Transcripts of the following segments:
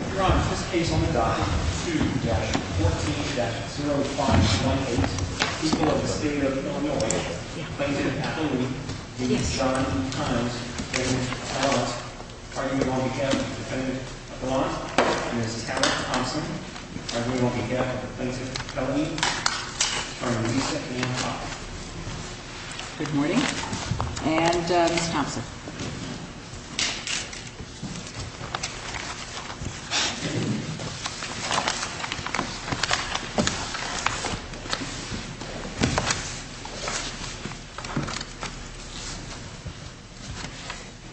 2-14-0518, People of the State of Illinois, Plaintiff Appellee, v. Sean E. Kines, Plaintiff Appellant, argument on behalf of the defendant Appellant, Mrs. Howard Thompson, argument on behalf of the plaintiff Appellee, Ms. Thompson, Mr. Wiese, and Mr. Pauk. Good morning. And Ms. Thompson.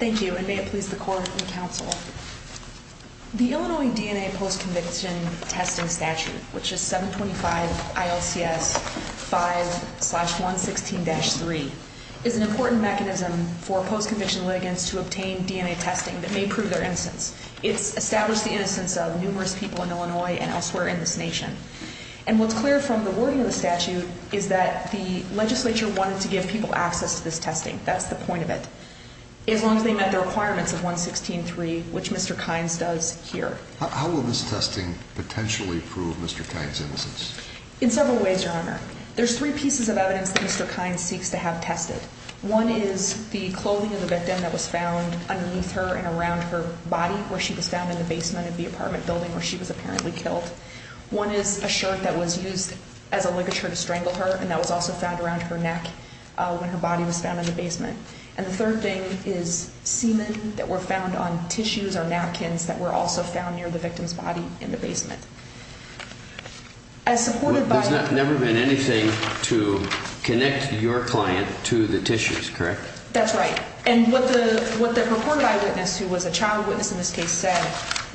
Thank you, and may it please the Court and Counsel, The Illinois DNA Post-Conviction Testing Statute, which is 725 ILCS 5-116-3, is an important mechanism for post-conviction litigants to obtain DNA testing that may prove their innocence. It's established the innocence of numerous people in Illinois and elsewhere in this nation. And what's clear from the wording of the statute is that the legislature wanted to give people access to this testing. That's the point of it, as long as they met the requirements of 116-3, which Mr. Kynes does here. How will this testing potentially prove Mr. Kynes' innocence? In several ways, Your Honor. There's three pieces of evidence that Mr. Kynes seeks to have tested. One is the clothing of the victim that was found underneath her and around her body, where she was found in the basement of the apartment building where she was apparently killed. One is a shirt that was used as a ligature to strangle her, and that was also found around her neck when her body was found in the basement. And the third thing is semen that were found on tissues or napkins that were also found near the victim's body in the basement. There's never been anything to connect your client to the tissues, correct? That's right. And what the reported eyewitness, who was a child witness in this case, said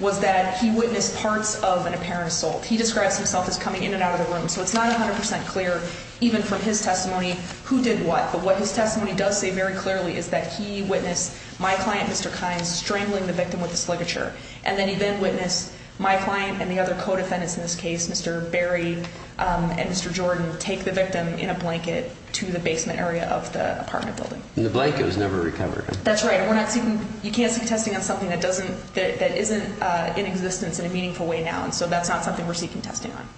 was that he witnessed parts of an apparent assault. He describes himself as coming in and out of the room. So it's not 100 percent clear, even from his testimony, who did what. But what his testimony does say very clearly is that he witnessed my client, Mr. Kynes, strangling the victim with his ligature. And then he then witnessed my client and the other co-defendants in this case, Mr. Berry and Mr. Jordan, take the victim in a blanket to the basement area of the apartment building. And the blanket was never recovered. That's right. And you can't seek testing on something that isn't in existence in a meaningful way now. And so that's not something we're seeking testing on.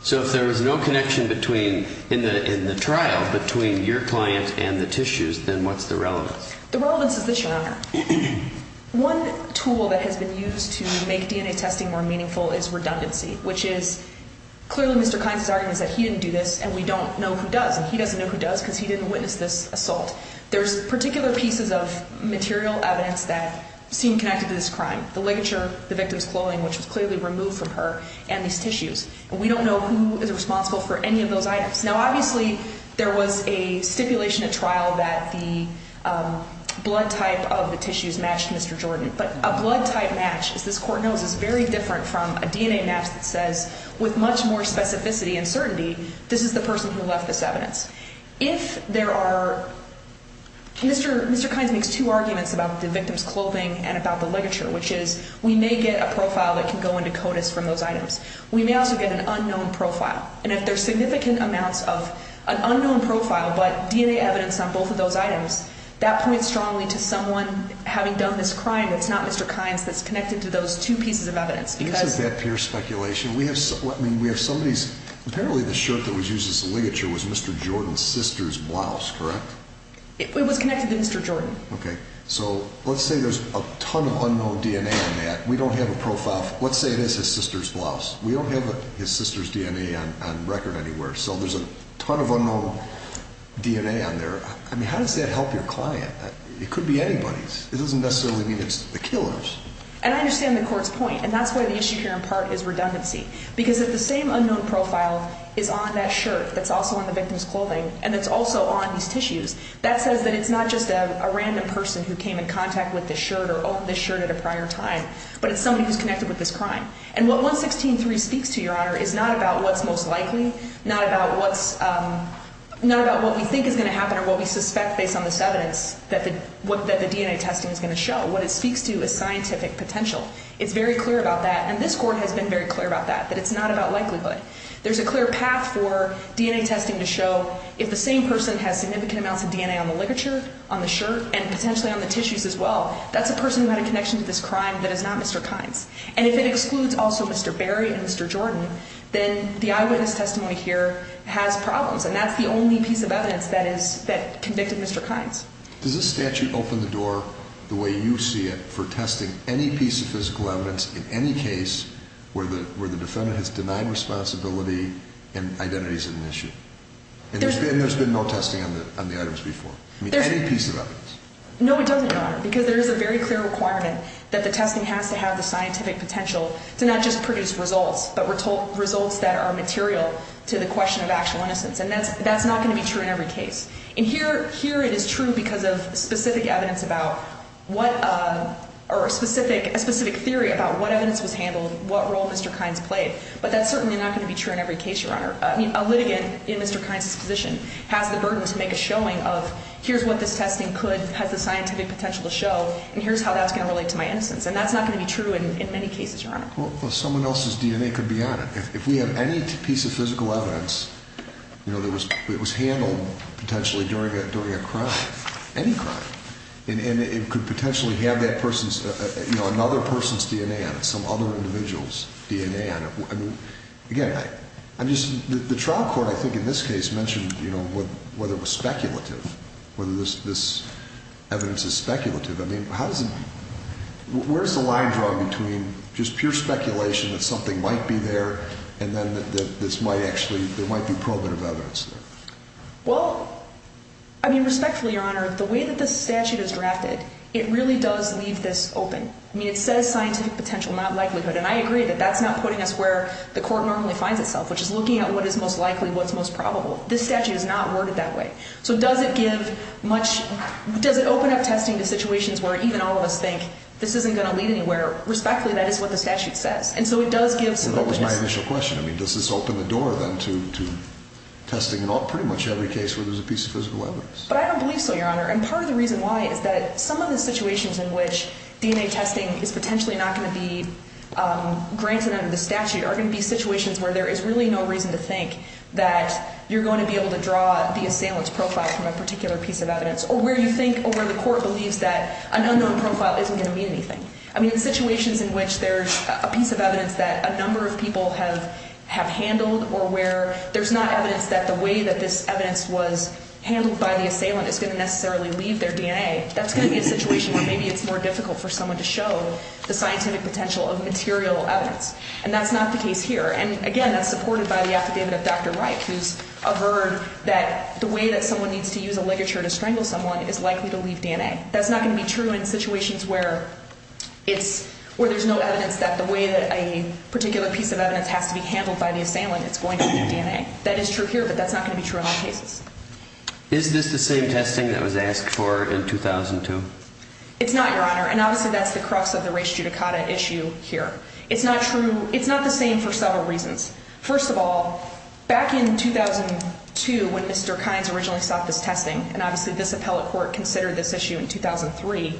So if there was no connection in the trial between your client and the tissues, then what's the relevance? The relevance is this, Your Honor. One tool that has been used to make DNA testing more meaningful is redundancy, which is clearly Mr. Kynes' argument is that he didn't do this and we don't know who does. And he doesn't know who does because he didn't witness this assault. The ligature, the victim's clothing, which was clearly removed from her, and these tissues. And we don't know who is responsible for any of those items. Now, obviously, there was a stipulation at trial that the blood type of the tissues matched Mr. Jordan. But a blood type match, as this Court knows, is very different from a DNA match that says, with much more specificity and certainty, this is the person who left this evidence. If there are – Mr. Kynes makes two arguments about the victim's clothing and about the ligature, which is we may get a profile that can go into CODIS from those items. We may also get an unknown profile. And if there's significant amounts of an unknown profile but DNA evidence on both of those items, that points strongly to someone having done this crime that's not Mr. Kynes, that's connected to those two pieces of evidence. This is that pure speculation. We have some of these – apparently the shirt that was used as the ligature was Mr. Jordan's sister's blouse, correct? It was connected to Mr. Jordan. Okay. So let's say there's a ton of unknown DNA on that. We don't have a profile – let's say it is his sister's blouse. We don't have his sister's DNA on record anywhere. So there's a ton of unknown DNA on there. I mean, how does that help your client? It could be anybody's. It doesn't necessarily mean it's the killer's. And I understand the court's point, and that's why the issue here in part is redundancy, because if the same unknown profile is on that shirt that's also on the victim's clothing and that's also on these tissues, that says that it's not just a random person who came in contact with this shirt or owned this shirt at a prior time, but it's somebody who's connected with this crime. And what 116.3 speaks to, Your Honor, is not about what's most likely, not about what's – not about what we think is going to happen or what we suspect based on this evidence that the DNA testing is going to show. What it speaks to is scientific potential. It's very clear about that, and this court has been very clear about that, that it's not about likelihood. There's a clear path for DNA testing to show if the same person has significant amounts of DNA on the ligature, on the shirt, and potentially on the tissues as well, that's a person who had a connection to this crime that is not Mr. Kynes. And if it excludes also Mr. Berry and Mr. Jordan, then the eyewitness testimony here has problems, and that's the only piece of evidence that convicted Mr. Kynes. Does this statute open the door the way you see it for testing any piece of physical evidence in any case where the defendant has denied responsibility and identity is an issue? And there's been no testing on the items before? I mean, any piece of evidence? No, it doesn't, Your Honor, because there is a very clear requirement that the testing has to have the scientific potential to not just produce results, but results that are material to the question of actual innocence. And that's not going to be true in every case. And here it is true because of specific evidence about what, or a specific theory about what evidence was handled, what role Mr. Kynes played, but that's certainly not going to be true in every case, Your Honor. I mean, a litigant in Mr. Kynes' position has the burden to make a showing of here's what this testing could, has the scientific potential to show, and here's how that's going to relate to my innocence. And that's not going to be true in many cases, Your Honor. Well, someone else's DNA could be on it. If we have any piece of physical evidence, you know, that was handled potentially during a crime, any crime, and it could potentially have that person's, you know, another person's DNA on it, some other individual's DNA on it. I mean, again, I'm just, the trial court I think in this case mentioned, you know, whether it was speculative, whether this evidence is speculative. I mean, how does it, where's the line drawn between just pure speculation that something might be there and then this might actually, there might be probative evidence there? Well, I mean, respectfully, Your Honor, the way that this statute is drafted, it really does leave this open. I mean, it says scientific potential, not likelihood, and I agree that that's not putting us where the court normally finds itself, which is looking at what is most likely, what's most probable. This statute is not worded that way. So does it give much, does it open up testing to situations where even all of us think this isn't going to lead anywhere? Respectfully, that is what the statute says. And so it does give some of the reasons. Well, that was my initial question. I mean, does this open the door then to testing in pretty much every case where there's a piece of physical evidence? But I don't believe so, Your Honor. And part of the reason why is that some of the situations in which DNA testing is potentially not going to be granted under the statute are going to be situations where there is really no reason to think that you're going to be able to draw the assailant's profile from a particular piece of evidence or where you think or where the court believes that an unknown profile isn't going to mean anything. I mean, in situations in which there's a piece of evidence that a number of people have handled or where there's not evidence that the way that this evidence was handled by the assailant is going to necessarily leave their DNA, that's going to be a situation where maybe it's more difficult for someone to show the scientific potential of material evidence. And that's not the case here. And again, that's supported by the affidavit of Dr. Wright, who's averred that the way that someone needs to use a ligature to strangle someone is likely to leave DNA. That's not going to be true in situations where there's no evidence that the way that a particular piece of evidence has to be handled by the assailant is going to leave DNA. That is true here, but that's not going to be true in all cases. Is this the same testing that was asked for in 2002? It's not, Your Honor. And obviously that's the crux of the res judicata issue here. It's not the same for several reasons. First of all, back in 2002 when Mr. Kines originally sought this testing, and obviously this appellate court considered this issue in 2003,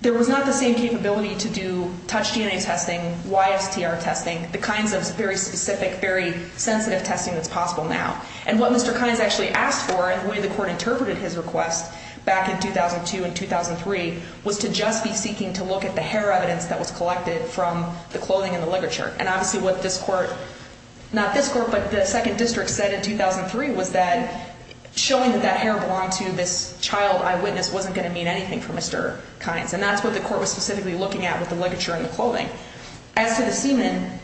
there was not the same capability to do touch DNA testing, YSTR testing, the kinds of very specific, very sensitive testing that's possible now. And what Mr. Kines actually asked for and the way the court interpreted his request back in 2002 and 2003 was to just be seeking to look at the hair evidence that was collected from the clothing and the ligature. And obviously what this court, not this court, but the second district said in 2003 was that showing that that hair belonged to this child eyewitness wasn't going to mean anything for Mr. Kines, and that's what the court was specifically looking at with the ligature and the clothing. As for the semen,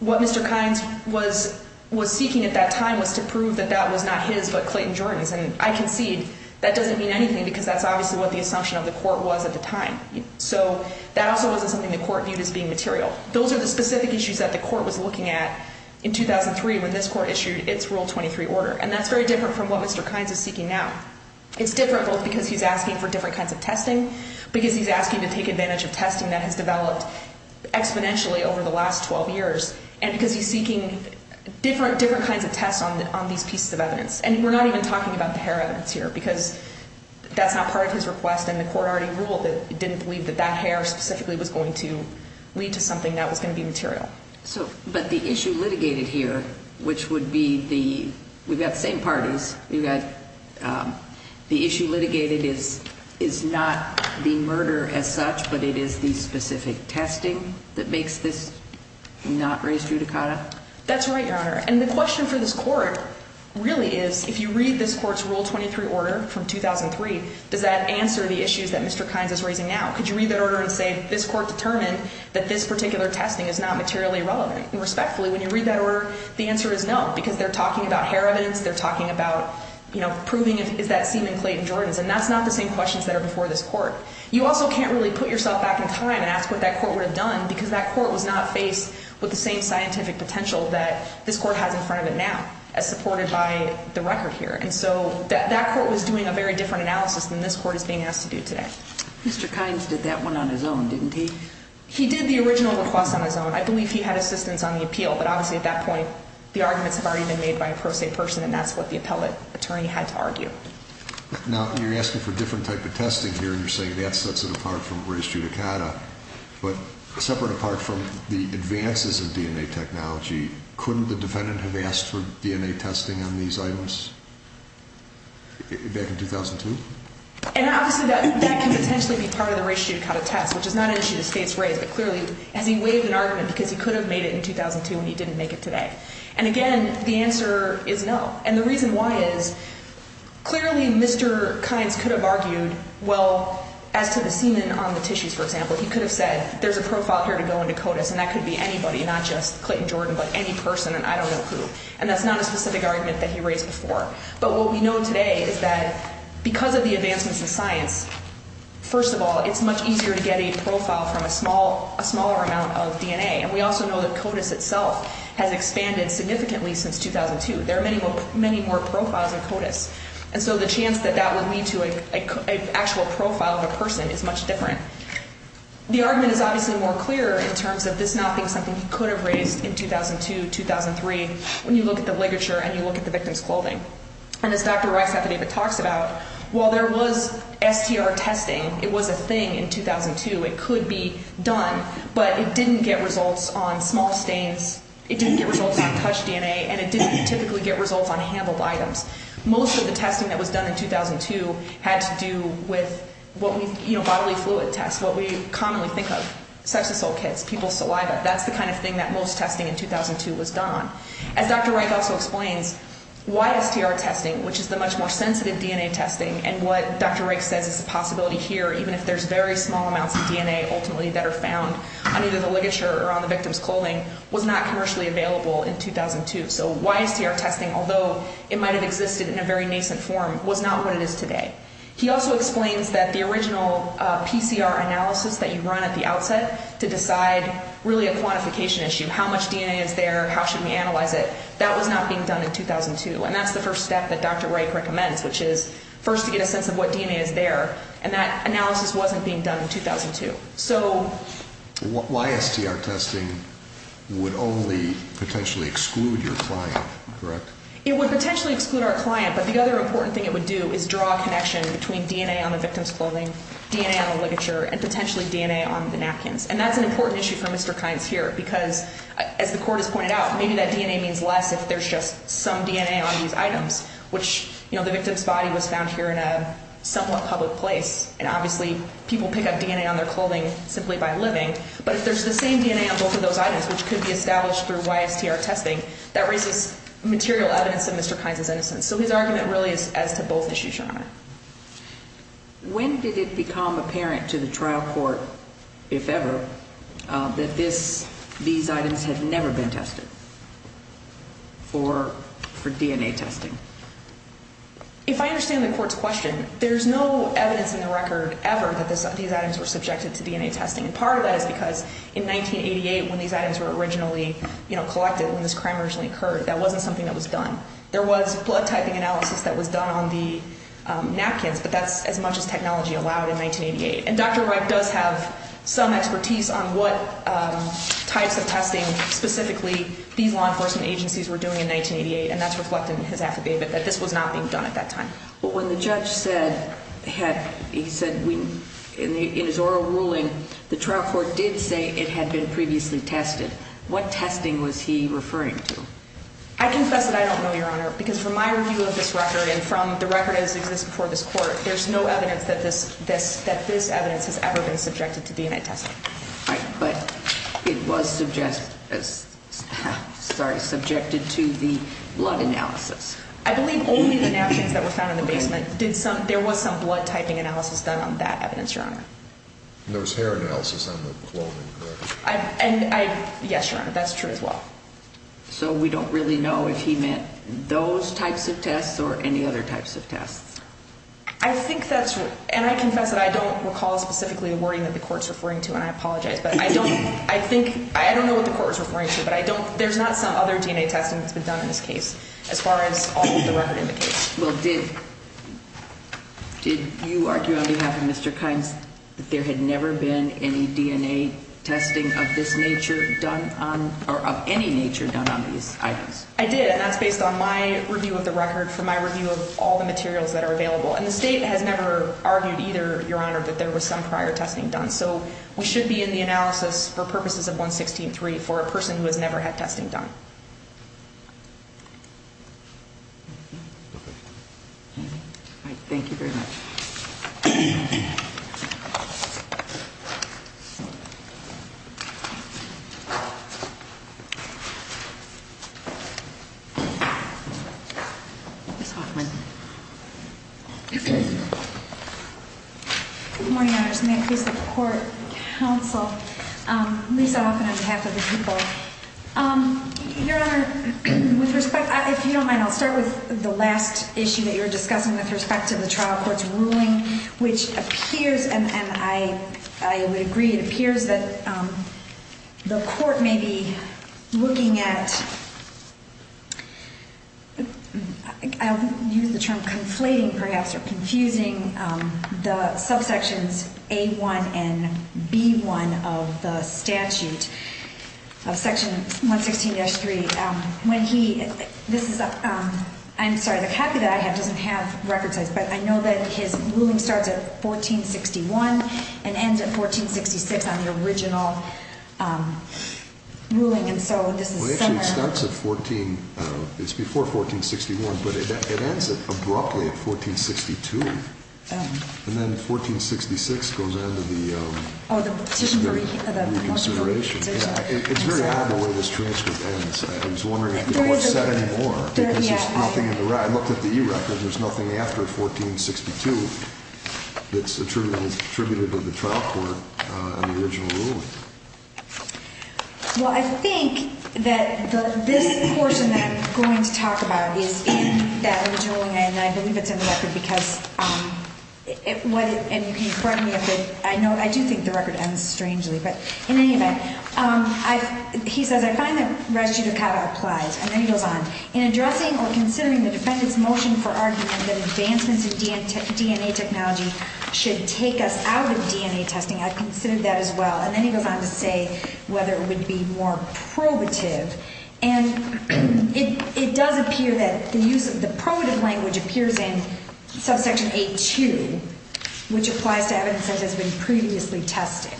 what Mr. Kines was seeking at that time was to prove that that was not his but Clayton Jordan's, and I concede that doesn't mean anything because that's obviously what the assumption of the court was at the time. So that also wasn't something the court viewed as being material. Those are the specific issues that the court was looking at in 2003 when this court issued its Rule 23 order, and that's very different from what Mr. Kines is seeking now. It's different both because he's asking for different kinds of testing, because he's asking to take advantage of testing that has developed exponentially over the last 12 years, and because he's seeking different kinds of tests on these pieces of evidence. And we're not even talking about the hair evidence here because that's not part of his request, and the court already ruled that it didn't believe that that hair specifically was going to lead to something that was going to be material. But the issue litigated here, which would be the – we've got the same parties. We've got – the issue litigated is not the murder as such, but it is the specific testing that makes this not raise judicata? That's right, Your Honor, and the question for this court really is, if you read this court's Rule 23 order from 2003, does that answer the issues that Mr. Kines is raising now? Could you read that order and say this court determined that this particular testing is not materially relevant? And respectfully, when you read that order, the answer is no, because they're talking about hair evidence. They're talking about proving is that semen clay in Jordan's, and that's not the same questions that are before this court. You also can't really put yourself back in time and ask what that court would have done because that court was not faced with the same scientific potential that this court has in front of it now, as supported by the record here. And so that court was doing a very different analysis than this court is being asked to do today. Mr. Kines did that one on his own, didn't he? He did the original request on his own. I believe he had assistance on the appeal, but obviously at that point, the arguments have already been made by a pro se person, and that's what the appellate attorney had to argue. Now, you're asking for a different type of testing here. You're saying that sets it apart from raise judicata, but separate apart from the advances in DNA technology, couldn't the defendant have asked for DNA testing on these items back in 2002? And obviously that can potentially be part of the raise judicata test, which is not an issue the state's raised, but clearly, has he waived an argument because he could have made it in 2002 and he didn't make it today? And again, the answer is no. And the reason why is clearly Mr. Kines could have argued, well, as to the semen on the tissues, for example, he could have said there's a profile here to go into CODIS, and that could be anybody, not just Clinton Jordan, but any person, and I don't know who. And that's not a specific argument that he raised before. But what we know today is that because of the advancements in science, first of all, it's much easier to get a profile from a smaller amount of DNA, and we also know that CODIS itself has expanded significantly since 2002. There are many more profiles in CODIS, and so the chance that that would lead to an actual profile of a person is much different. The argument is obviously more clear in terms of this not being something he could have raised in 2002, 2003, when you look at the ligature and you look at the victim's clothing. And as Dr. Rex Hathaway talks about, while there was STR testing, it was a thing in 2002. It could be done, but it didn't get results on small stains, it didn't get results on touched DNA, and it didn't typically get results on handled items. Most of the testing that was done in 2002 had to do with bodily fluid tests, what we commonly think of, sex assault kits, people's saliva. That's the kind of thing that most testing in 2002 was done on. As Dr. Reich also explains, why STR testing, which is the much more sensitive DNA testing, and what Dr. Reich says is a possibility here, even if there's very small amounts of DNA ultimately that are found on either the ligature or on the victim's clothing, was not commercially available in 2002. So why STR testing, although it might have existed in a very nascent form, was not what it is today. He also explains that the original PCR analysis that you run at the outset to decide really a quantification issue, how much DNA is there, how should we analyze it, that was not being done in 2002, and that's the first step that Dr. Reich recommends, which is first to get a sense of what DNA is there, and that analysis wasn't being done in 2002. So why STR testing would only potentially exclude your client, correct? It would potentially exclude our client, but the other important thing it would do is draw a connection between DNA on the victim's clothing, DNA on the ligature, and potentially DNA on the napkins, and that's an important issue for Mr. Kynes here because, as the court has pointed out, maybe that DNA means less if there's just some DNA on these items, which the victim's body was found here in a somewhat public place, and obviously people pick up DNA on their clothing simply by living, but if there's the same DNA on both of those items, which could be established through YSTR testing, that raises material evidence of Mr. Kynes' innocence. So his argument really is as to both issues, Your Honor. When did it become apparent to the trial court, if ever, that these items had never been tested for DNA testing? If I understand the court's question, there's no evidence in the record ever that these items were subjected to DNA testing, and part of that is because in 1988, when these items were originally collected, when this crime originally occurred, that wasn't something that was done. There was blood typing analysis that was done on the napkins, but that's as much as technology allowed in 1988, and Dr. Wright does have some expertise on what types of testing, specifically, these law enforcement agencies were doing in 1988, and that's reflected in his affidavit that this was not being done at that time. But when the judge said, he said in his oral ruling, the trial court did say it had been previously tested, what testing was he referring to? I confess that I don't know, Your Honor, because from my review of this record and from the record as it exists before this court, there's no evidence that this evidence has ever been subjected to DNA testing. Right, but it was subjected to the blood analysis. I believe only the napkins that were found in the basement. There was some blood typing analysis done on that evidence, Your Honor. And there was hair analysis on the clothing, correct? Yes, Your Honor, that's true as well. So we don't really know if he meant those types of tests or any other types of tests. I think that's true, and I confess that I don't recall specifically the wording that the court's referring to, and I apologize, but I don't know what the court was referring to, but there's not some other DNA testing that's been done in this case, as far as all of the record indicates. Well, did you argue on behalf of Mr. Kimes that there had never been any DNA testing of this nature done or of any nature done on these items? I did, and that's based on my review of the record for my review of all the materials that are available. And the state has never argued either, Your Honor, that there was some prior testing done. So we should be in the analysis for purposes of 116.3 for a person who has never had testing done. All right. Thank you very much. Ms. Hoffman. Good morning, Your Honor. First, may I please have the court counsel Lisa Hoffman on behalf of the people? Your Honor, with respect, if you don't mind, I'll start with the last issue that you were discussing with respect to the trial court's ruling, which appears, and I would agree, it appears that the court may be looking at, I'll use the term conflating perhaps or confusing the subsections A-1 and B-1 of the statute of section 116-3. When he, this is, I'm sorry, the copy that I have doesn't have record size, but I know that his ruling starts at 1461 and ends at 1466 on the original ruling, and so this is similar. Well, actually, it starts at 14, it's before 1461, but it ends abruptly at 1462. And then 1466 goes into the reconsideration. It's very odd the way this transcript ends. I was wondering if the court said any more because there's nothing in the record. I looked at the e-record and there's nothing after 1462 that's attributed to the trial court on the original ruling. Well, I think that this portion that I'm going to talk about is in that original ruling, and I believe it's in the record because, and you can correct me if I do think the record ends strangely, but in any event, he says, I find that res judicata applies, and then he goes on, in addressing or considering the defendant's motion for argument that advancements in DNA technology should take us out of DNA testing, I've considered that as well. And then he goes on to say whether it would be more probative, and it does appear that the use of the probative language appears in subsection A2, which applies to evidence that has been previously tested.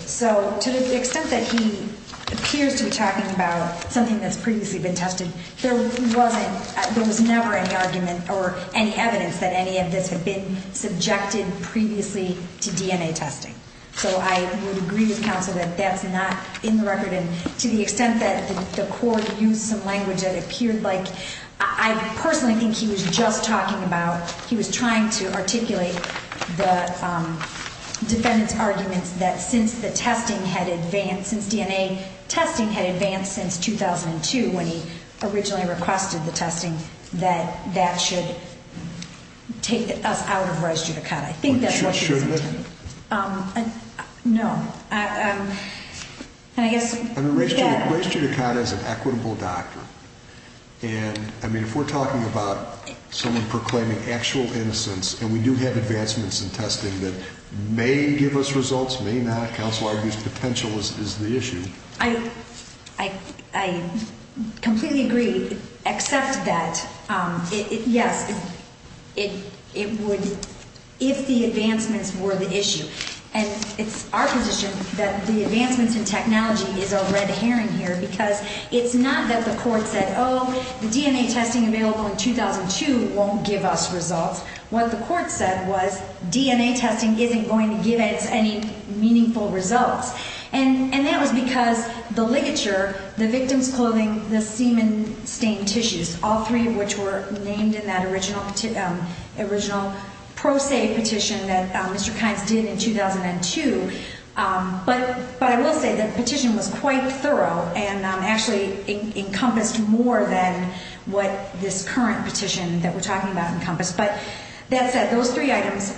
So to the extent that he appears to be talking about something that's previously been tested, there was never any argument or any evidence that any of this had been subjected previously to DNA testing. So I would agree with counsel that that's not in the record, and to the extent that the court used some language that appeared like, I personally think he was just talking about, he was trying to articulate the defendant's arguments that since the testing had advanced, since DNA testing had advanced since 2002, when he originally requested the testing, that that should take us out of res judicata. I think that's what he's saying. Shouldn't it? No. Res judicata is an equitable doctor. And if we're talking about someone proclaiming actual innocence, and we do have advancements in testing that may give us results, may not, counsel argues potential is the issue. I completely agree, except that, yes, if the advancements were the issue. And it's our position that the advancements in technology is a red herring here because it's not that the court said, oh, the DNA testing available in 2002 won't give us results. What the court said was DNA testing isn't going to give us any meaningful results. And that was because the ligature, the victim's clothing, the semen stained tissues, all three of which were named in that original pro se petition that Mr. Kines did in 2002. But I will say the petition was quite thorough and actually encompassed more than what this current petition that we're talking about encompassed. But that said, those three items,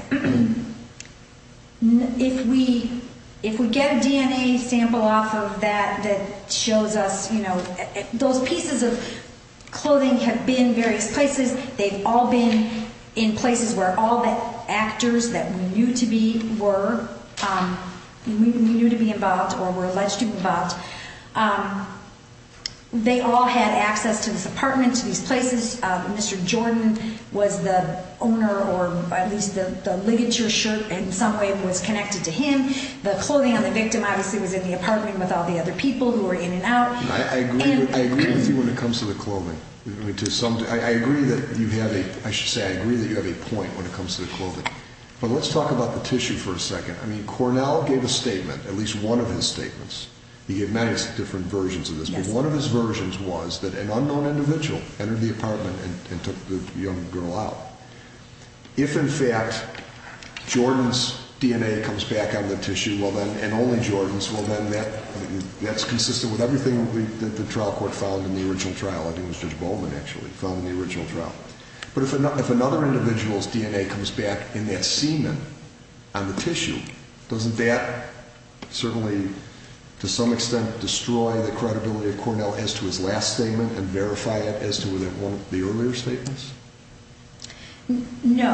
if we get a DNA sample off of that that shows us, you know, those pieces of clothing have been various places. They've all been in places where all the actors that we knew to be were, we knew to be involved or were alleged to be involved. They all had access to this apartment, to these places. Mr. Jordan was the owner or at least the ligature shirt in some way was connected to him. The clothing of the victim obviously was in the apartment with all the other people who were in and out. I agree with you when it comes to the clothing. I agree that you have a, I should say I agree that you have a point when it comes to the clothing. But let's talk about the tissue for a second. I mean, Cornell gave a statement, at least one of his statements. He gave many different versions of this. But one of his versions was that an unknown individual entered the apartment and took the young girl out. If in fact Jordan's DNA comes back on the tissue and only Jordan's, well then that's consistent with everything that the trial court found in the original trial. I think it was Judge Bowman actually found in the original trial. But if another individual's DNA comes back in that semen on the tissue, doesn't that certainly to some extent destroy the credibility of Cornell as to his last statement and verify it as to the earlier statements? No.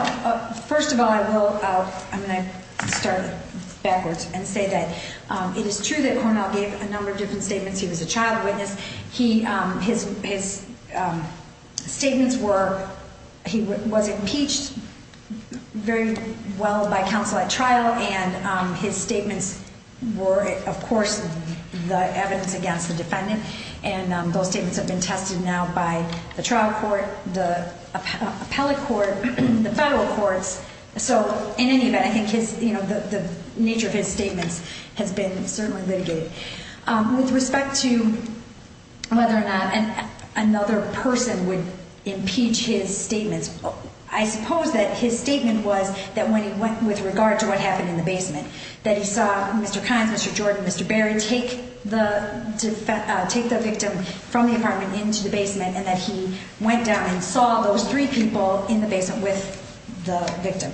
First of all, I will, I'm going to start backwards and say that it is true that Cornell gave a number of different statements. He was a trial witness. His statements were he was impeached very well by counsel at trial and his statements were of course the evidence against the defendant. And those statements have been tested now by the trial court, the appellate court, the federal courts. So in any event, I think the nature of his statements has been certainly litigated. With respect to whether or not another person would impeach his statements, I suppose that his statement was that when he went with regard to what happened in the basement, that he saw Mr. Kynes, Mr. Jordan, Mr. Berry take the victim from the apartment into the basement and that he went down and saw those three people in the basement with the victim.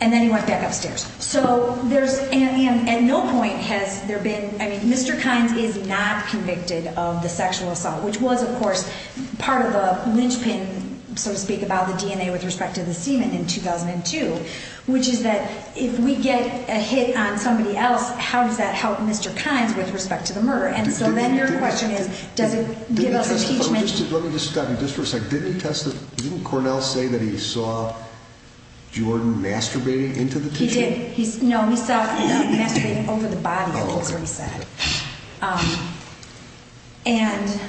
And then he went back upstairs. So there's at no point has there been, I mean, Mr. Kynes is not convicted of the sexual assault, which was of course part of the linchpin, so to speak, about the DNA with respect to the semen in 2002, which is that if we get a hit on somebody else, how does that help Mr. Kynes with respect to the murder? And so then your question is, does it give us impeachment? Let me just stop you just for a second. Didn't Cornell say that he saw Jordan masturbating into the tissue? He did. No, he saw masturbating over the body, I think is what he said. And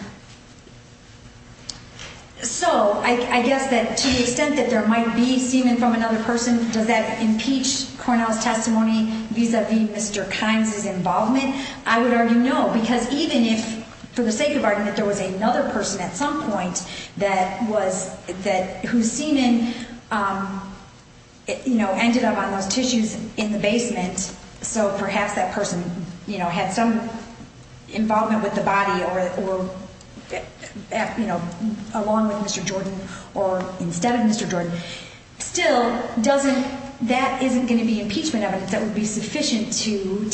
so I guess that to the extent that there might be semen from another person, does that impeach Cornell's testimony vis-à-vis Mr. Kynes' involvement? I would argue no, because even if for the sake of argument there was another person at some point that was, that whose semen, you know, ended up on those tissues in the basement, and so perhaps that person had some involvement with the body along with Mr. Jordan or instead of Mr. Jordan, still that isn't going to be impeachment evidence that would be sufficient to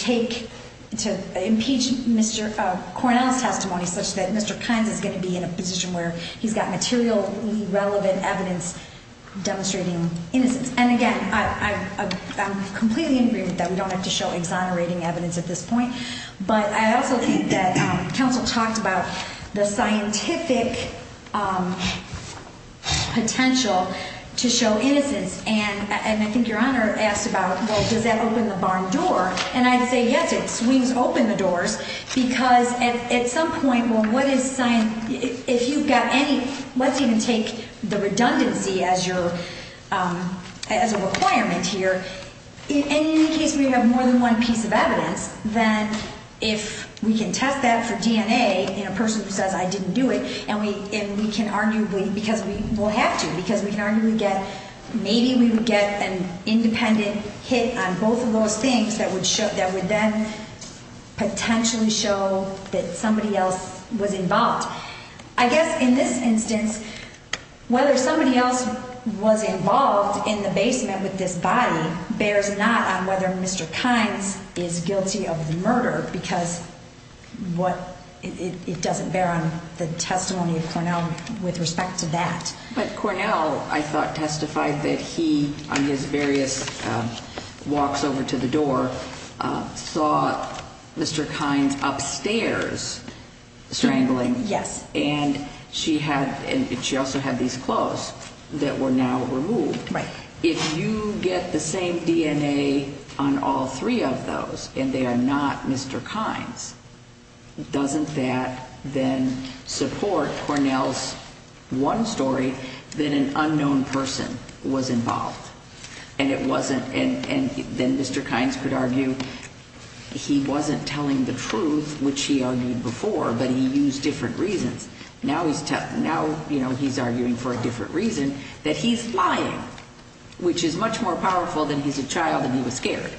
impeach Mr. Cornell's testimony such that Mr. Kynes is going to be in a position where he's got materially relevant evidence demonstrating innocence. And again, I'm completely in agreement that we don't have to show exonerating evidence at this point. But I also think that counsel talked about the scientific potential to show innocence. And I think Your Honor asked about, well, does that open the barn door? And I'd say yes, it swings open the doors, because at some point, well, what is science? And if you've got any, let's even take the redundancy as your, as a requirement here. In any case, we have more than one piece of evidence that if we can test that for DNA in a person who says I didn't do it, and we can arguably, because we will have to, because we can arguably get, maybe we would get an independent hit on both of those things that would then potentially show that somebody else was involved. I guess in this instance, whether somebody else was involved in the basement with this body bears not on whether Mr. Kynes is guilty of the murder, because it doesn't bear on the testimony of Cornell with respect to that. But Cornell, I thought, testified that he, on his various walks over to the door, saw Mr. Kynes upstairs strangling. Yes. And she had, and she also had these clothes that were now removed. Right. If you get the same DNA on all three of those, and they are not Mr. Kynes, doesn't that then support Cornell's one story that an unknown person was involved? And it wasn't, and then Mr. Kynes could argue he wasn't telling the truth, which he argued before, but he used different reasons. Now he's arguing for a different reason, that he's lying, which is much more powerful than he's a child and he was scared.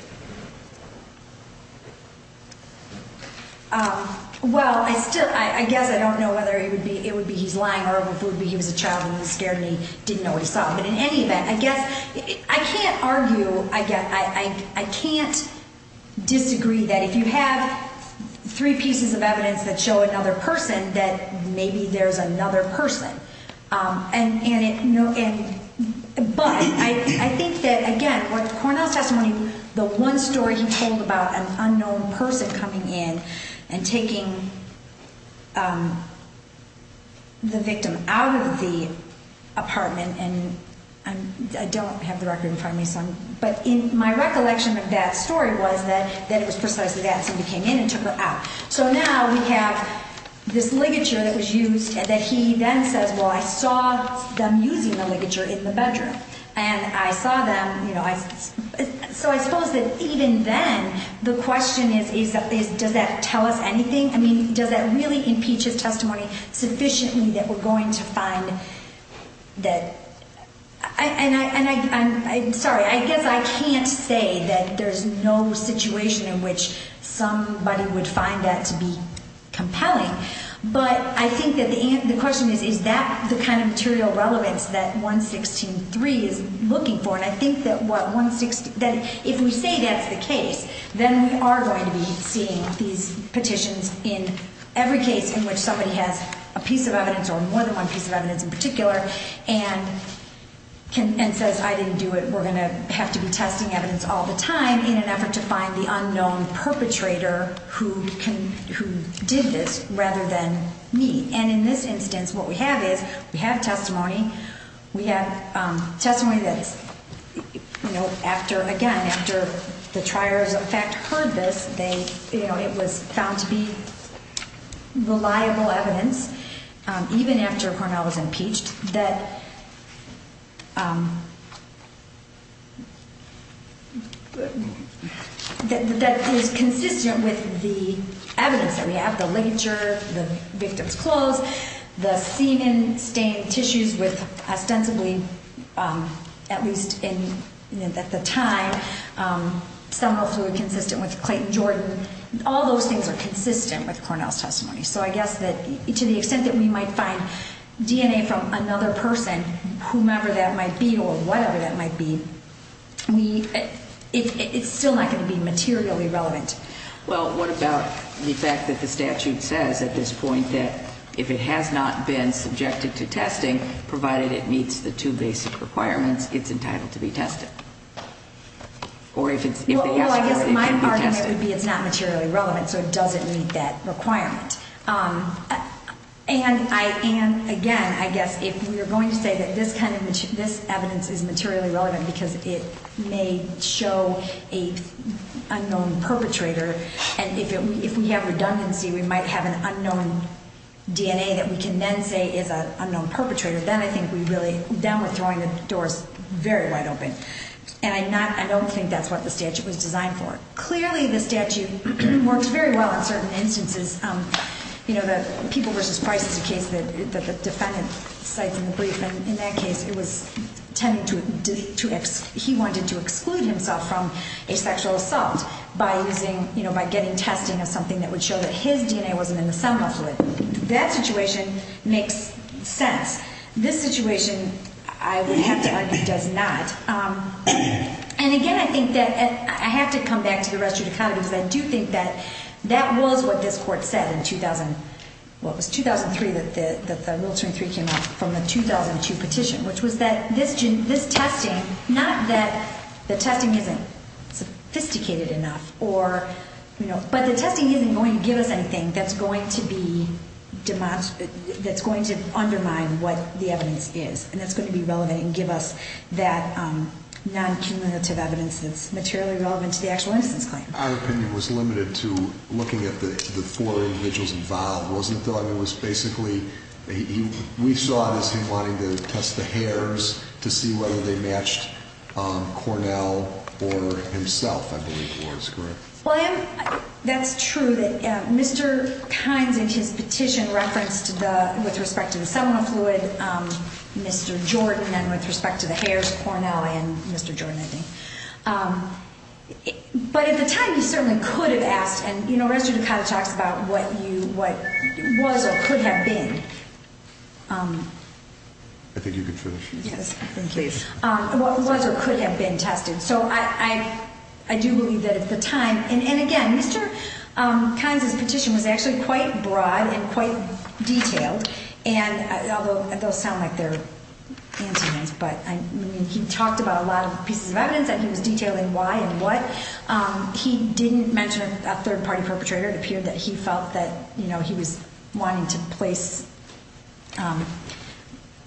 Well, I still, I guess I don't know whether it would be he's lying or if it would be he was a child and he was scared and he didn't know he saw him. But in any event, I guess, I can't argue, I can't disagree that if you have three pieces of evidence that show another person, that maybe there's another person. But I think that, again, with Cornell's testimony, the one story he told about an unknown person coming in and taking the victim out of the apartment, and I don't have the record in front of me, but my recollection of that story was that it was precisely that somebody came in and took her out. So now we have this ligature that was used, and that he then says, well, I saw them using the ligature in the bedroom. And I saw them, you know, so I suppose that even then, the question is, does that tell us anything? I mean, does that really impeach his testimony sufficiently that we're going to find that? And I'm sorry, I guess I can't say that there's no situation in which somebody would find that to be compelling. But I think that the question is, is that the kind of material relevance that 116.3 is looking for? And I think that if we say that's the case, then we are going to be seeing these petitions in every case in which somebody has a piece of evidence or more than one piece of evidence in particular. And says, I didn't do it, we're going to have to be testing evidence all the time in an effort to find the unknown perpetrator who did this rather than me. And in this instance, what we have is we have testimony, we have testimony that is, you know, after, again, after the triers in fact heard this, that they, you know, it was found to be reliable evidence, even after Cornell was impeached, that is consistent with the evidence that we have, the ligature, the victim's clothes, the semen stained tissues with ostensibly, at least at the time, seminal fluid consistent with Clayton Jordan. All those things are consistent with Cornell's testimony. So I guess that to the extent that we might find DNA from another person, whomever that might be or whatever that might be, it's still not going to be materially relevant. Well, what about the fact that the statute says at this point that if it has not been subjected to testing, provided it meets the two basic requirements, it's entitled to be tested? Or if they ask for it, it can be tested. Well, I guess my argument would be it's not materially relevant, so it doesn't meet that requirement. And again, I guess if we are going to say that this evidence is materially relevant because it may show an unknown perpetrator, and if we have redundancy, we might have an unknown DNA that we can then say is an unknown perpetrator, then I think we really, then we're throwing the doors very wide open. And I don't think that's what the statute was designed for. Clearly, the statute works very well in certain instances. You know, the People v. Price is a case that the defendant cites in the brief, and in that case, it was tended to, he wanted to exclude himself from a sexual assault by using, you know, by getting testing of something that would show that his DNA wasn't in the cell muscle. That situation makes sense. This situation, I would have to argue, does not. And again, I think that, I have to come back to the rest of your comment, because I do think that that was what this court said in 2000, well, it was 2003 that the rule 23 came out from the 2002 petition, which was that this testing, not that the testing isn't sophisticated enough, or, you know, but the testing isn't going to give us anything that's going to be, that's going to undermine what the evidence is. And that's going to be relevant and give us that non-cumulative evidence that's materially relevant to the actual instance claim. Our opinion was limited to looking at the four individuals involved, wasn't it, though? I mean, it was basically, we saw it as him wanting to test the hairs to see whether they matched Cornell or himself, I believe it was, correct? Well, I am, that's true that Mr. Kynes in his petition referenced the, with respect to the seminal fluid, Mr. Jordan, and with respect to the hairs, Cornell and Mr. Jordan, I think. But at the time, he certainly could have asked, and, you know, Rester-Ducati talks about what you, what was or could have been. I think you can finish. Yes. Please. What was or could have been tested. So I do believe that at the time, and again, Mr. Kynes' petition was actually quite broad and quite detailed. And although those sound like they're antonyms, but I mean, he talked about a lot of pieces of evidence that he was detailing why and what. He didn't mention a third-party perpetrator. It appeared that he felt that, you know, he was wanting to place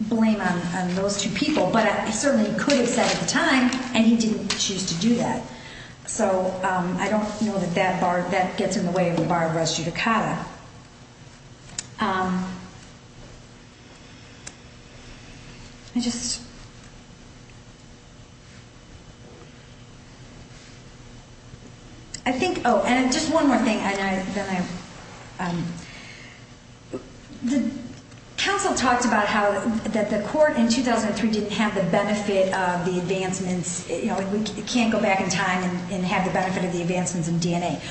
blame on those two people. But he certainly could have said at the time, and he didn't choose to do that. So I don't know that that bar, that gets in the way of the bar of Rester-Ducati. I just, I think, oh, and just one more thing, and then I, the council talked about how, that the court in 2003 didn't have the benefit of the advancements. You know, we can't go back in time and have the benefit of the advancements in DNA.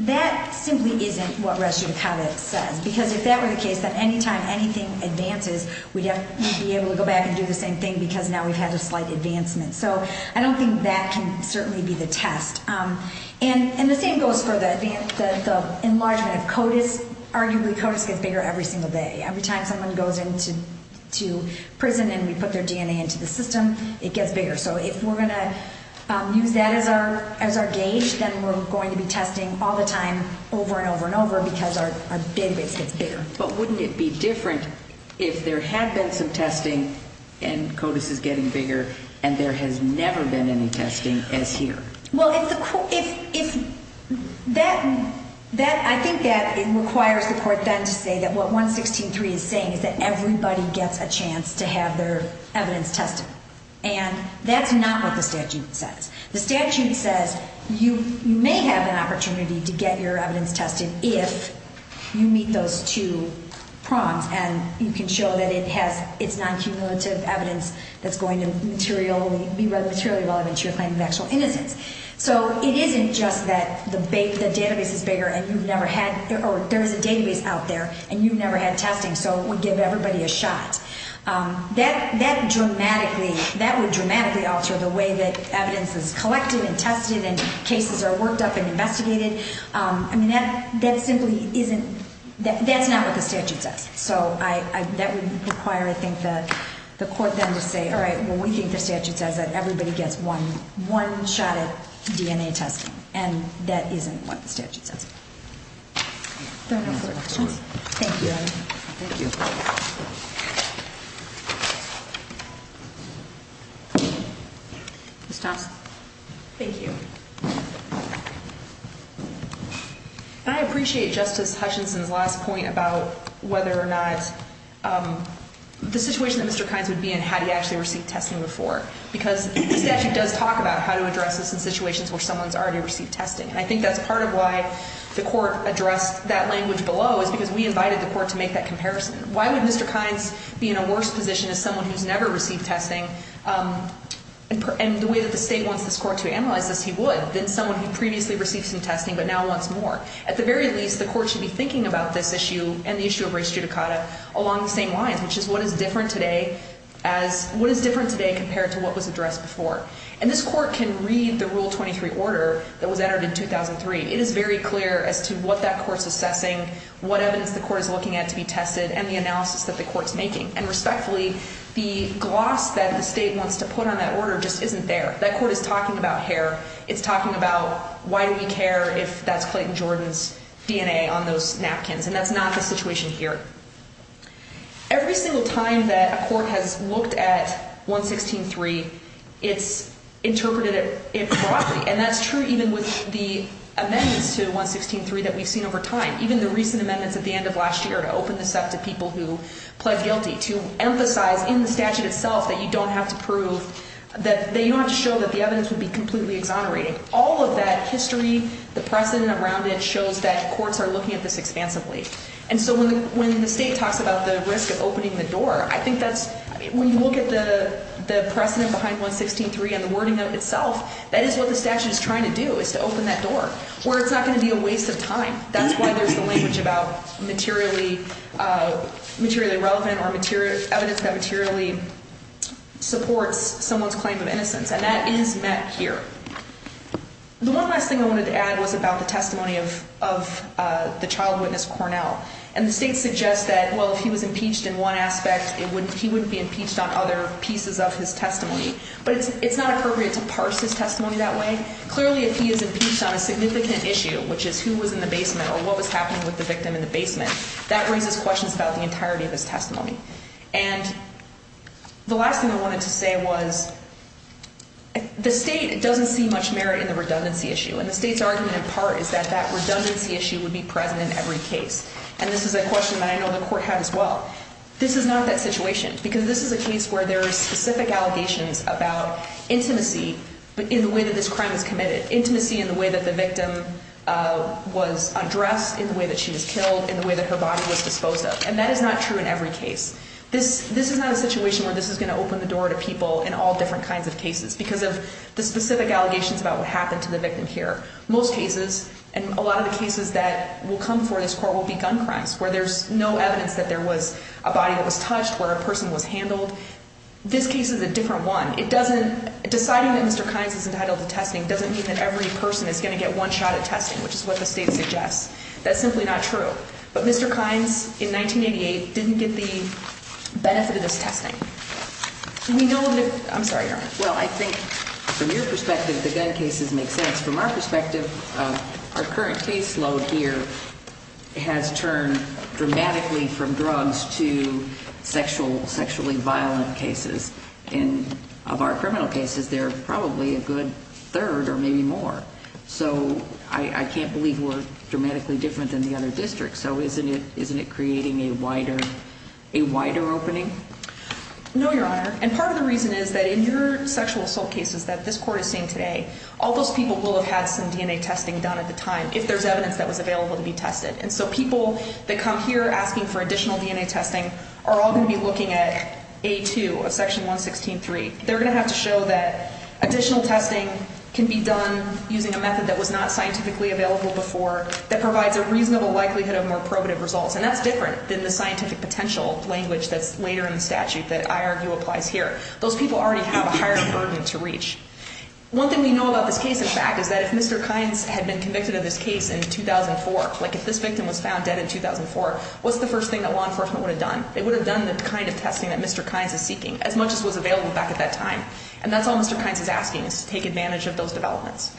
That simply isn't what Rester-Ducati says. Because if that were the case, then any time anything advances, we'd be able to go back and do the same thing because now we've had a slight advancement. So I don't think that can certainly be the test. And the same goes for the enlargement of CODIS. Arguably, CODIS gets bigger every single day. Every time someone goes into prison and we put their DNA into the system, it gets bigger. So if we're going to use that as our gauge, then we're going to be testing all the time over and over and over because our database gets bigger. But wouldn't it be different if there had been some testing and CODIS is getting bigger and there has never been any testing as here? Well, if the court, if that, I think that it requires the court then to say that what 116.3 is saying is that everybody gets a chance to have their evidence tested. And that's not what the statute says. The statute says you may have an opportunity to get your evidence tested if you meet those two prongs and you can show that it has its non-cumulative evidence that's going to be materially relevant to your claim of actual innocence. So it isn't just that the database is bigger and you've never had, or there's a database out there and you've never had testing, so we give everybody a shot. That dramatically, that would dramatically alter the way that evidence is collected and tested and cases are worked up and investigated. I mean, that simply isn't, that's not what the statute says. So that would require, I think, the court then to say, all right, well, we think the statute says that everybody gets one shot at DNA testing. And that isn't what the statute says. If there are no further questions. Thank you. Thank you. Ms. Thompson. Thank you. I appreciate Justice Hutchinson's last point about whether or not the situation that Mr. Kines would be in had he actually received testing before. Because the statute does talk about how to address this in situations where someone's already received testing. And I think that's part of why the court addressed that language below is because we invited the court to make that comparison. Why would Mr. Kines be in a worse position as someone who's never received testing and the way that the state wants this court to analyze this, he would, than someone who previously received some testing but now wants more. At the very least, the court should be thinking about this issue and the issue of race judicata along the same lines, which is what is different today as, what is different today compared to what was addressed before. And this court can read the Rule 23 order that was entered in 2003. It is very clear as to what that court's assessing, what evidence the court is looking at to be tested, and the analysis that the court's making. And respectfully, the gloss that the state wants to put on that order just isn't there. That court is talking about hair. It's talking about why do we care if that's Clayton Jordan's DNA on those napkins. And that's not the situation here. Every single time that a court has looked at 116.3, it's interpreted it broadly. And that's true even with the amendments to 116.3 that we've seen over time. Even the recent amendments at the end of last year to open this up to people who pled guilty, to emphasize in the statute itself that you don't have to prove, that you don't have to show that the evidence would be completely exonerating. All of that history, the precedent around it shows that courts are looking at this expansively. And so when the state talks about the risk of opening the door, I think that's, when you look at the precedent behind 116.3 and the wording of it itself, that is what the statute is trying to do, is to open that door. Where it's not going to be a waste of time. That's why there's the language about materially relevant or evidence that materially supports someone's claim of innocence. And that is met here. The one last thing I wanted to add was about the testimony of the child witness, Cornell. And the state suggests that, well, if he was impeached in one aspect, he wouldn't be impeached on other pieces of his testimony. But it's not appropriate to parse his testimony that way. Clearly, if he is impeached on a significant issue, which is who was in the basement or what was happening with the victim in the basement, that raises questions about the entirety of his testimony. And the last thing I wanted to say was, the state doesn't see much merit in the redundancy issue. And the state's argument in part is that that redundancy issue would be present in every case. And this is a question that I know the court had as well. This is not that situation. Because this is a case where there are specific allegations about intimacy in the way that this crime was committed. Intimacy in the way that the victim was undressed, in the way that she was killed, in the way that her body was disposed of. And that is not true in every case. This is not a situation where this is going to open the door to people in all different kinds of cases because of the specific allegations about what happened to the victim here. Most cases, and a lot of the cases that will come before this court will be gun crimes, where there's no evidence that there was a body that was touched, where a person was handled. This case is a different one. It doesn't – deciding that Mr. Kynes is entitled to testing doesn't mean that every person is going to get one shot at testing, which is what the state suggests. That's simply not true. But Mr. Kynes, in 1988, didn't get the benefit of this testing. And we know that – I'm sorry, Your Honor. Well, I think from your perspective, the gun cases make sense. From our perspective, our current caseload here has turned dramatically from drugs to sexual – sexually violent cases. And of our criminal cases, there are probably a good third or maybe more. So I can't believe we're dramatically different than the other districts. So isn't it creating a wider – a wider opening? No, Your Honor. And part of the reason is that in your sexual assault cases that this court is seeing today, all those people will have had some DNA testing done at the time if there's evidence that was available to be tested. And so people that come here asking for additional DNA testing are all going to be looking at A2, Section 116.3. They're going to have to show that additional testing can be done using a method that was not scientifically available before that provides a reasonable likelihood of more probative results. And that's different than the scientific potential language that's later in the statute that I argue applies here. Those people already have a higher burden to reach. One thing we know about this case, in fact, is that if Mr. Kynes had been convicted of this case in 2004, like if this victim was found dead in 2004, what's the first thing that law enforcement would have done? They would have done the kind of testing that Mr. Kynes is seeking, as much as was available back at that time. And that's all Mr. Kynes is asking, is to take advantage of those developments.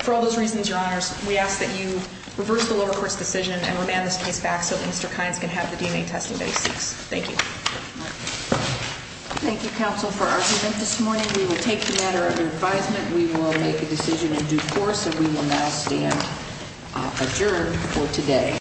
For all those reasons, Your Honors, we ask that you reverse the lower court's decision and remand this case back so that Mr. Kynes can have the DNA testing that he seeks. Thank you. Thank you, counsel, for argument this morning. We will take the matter under advisement. We will make a decision in due course, and we will now stand adjourned for today.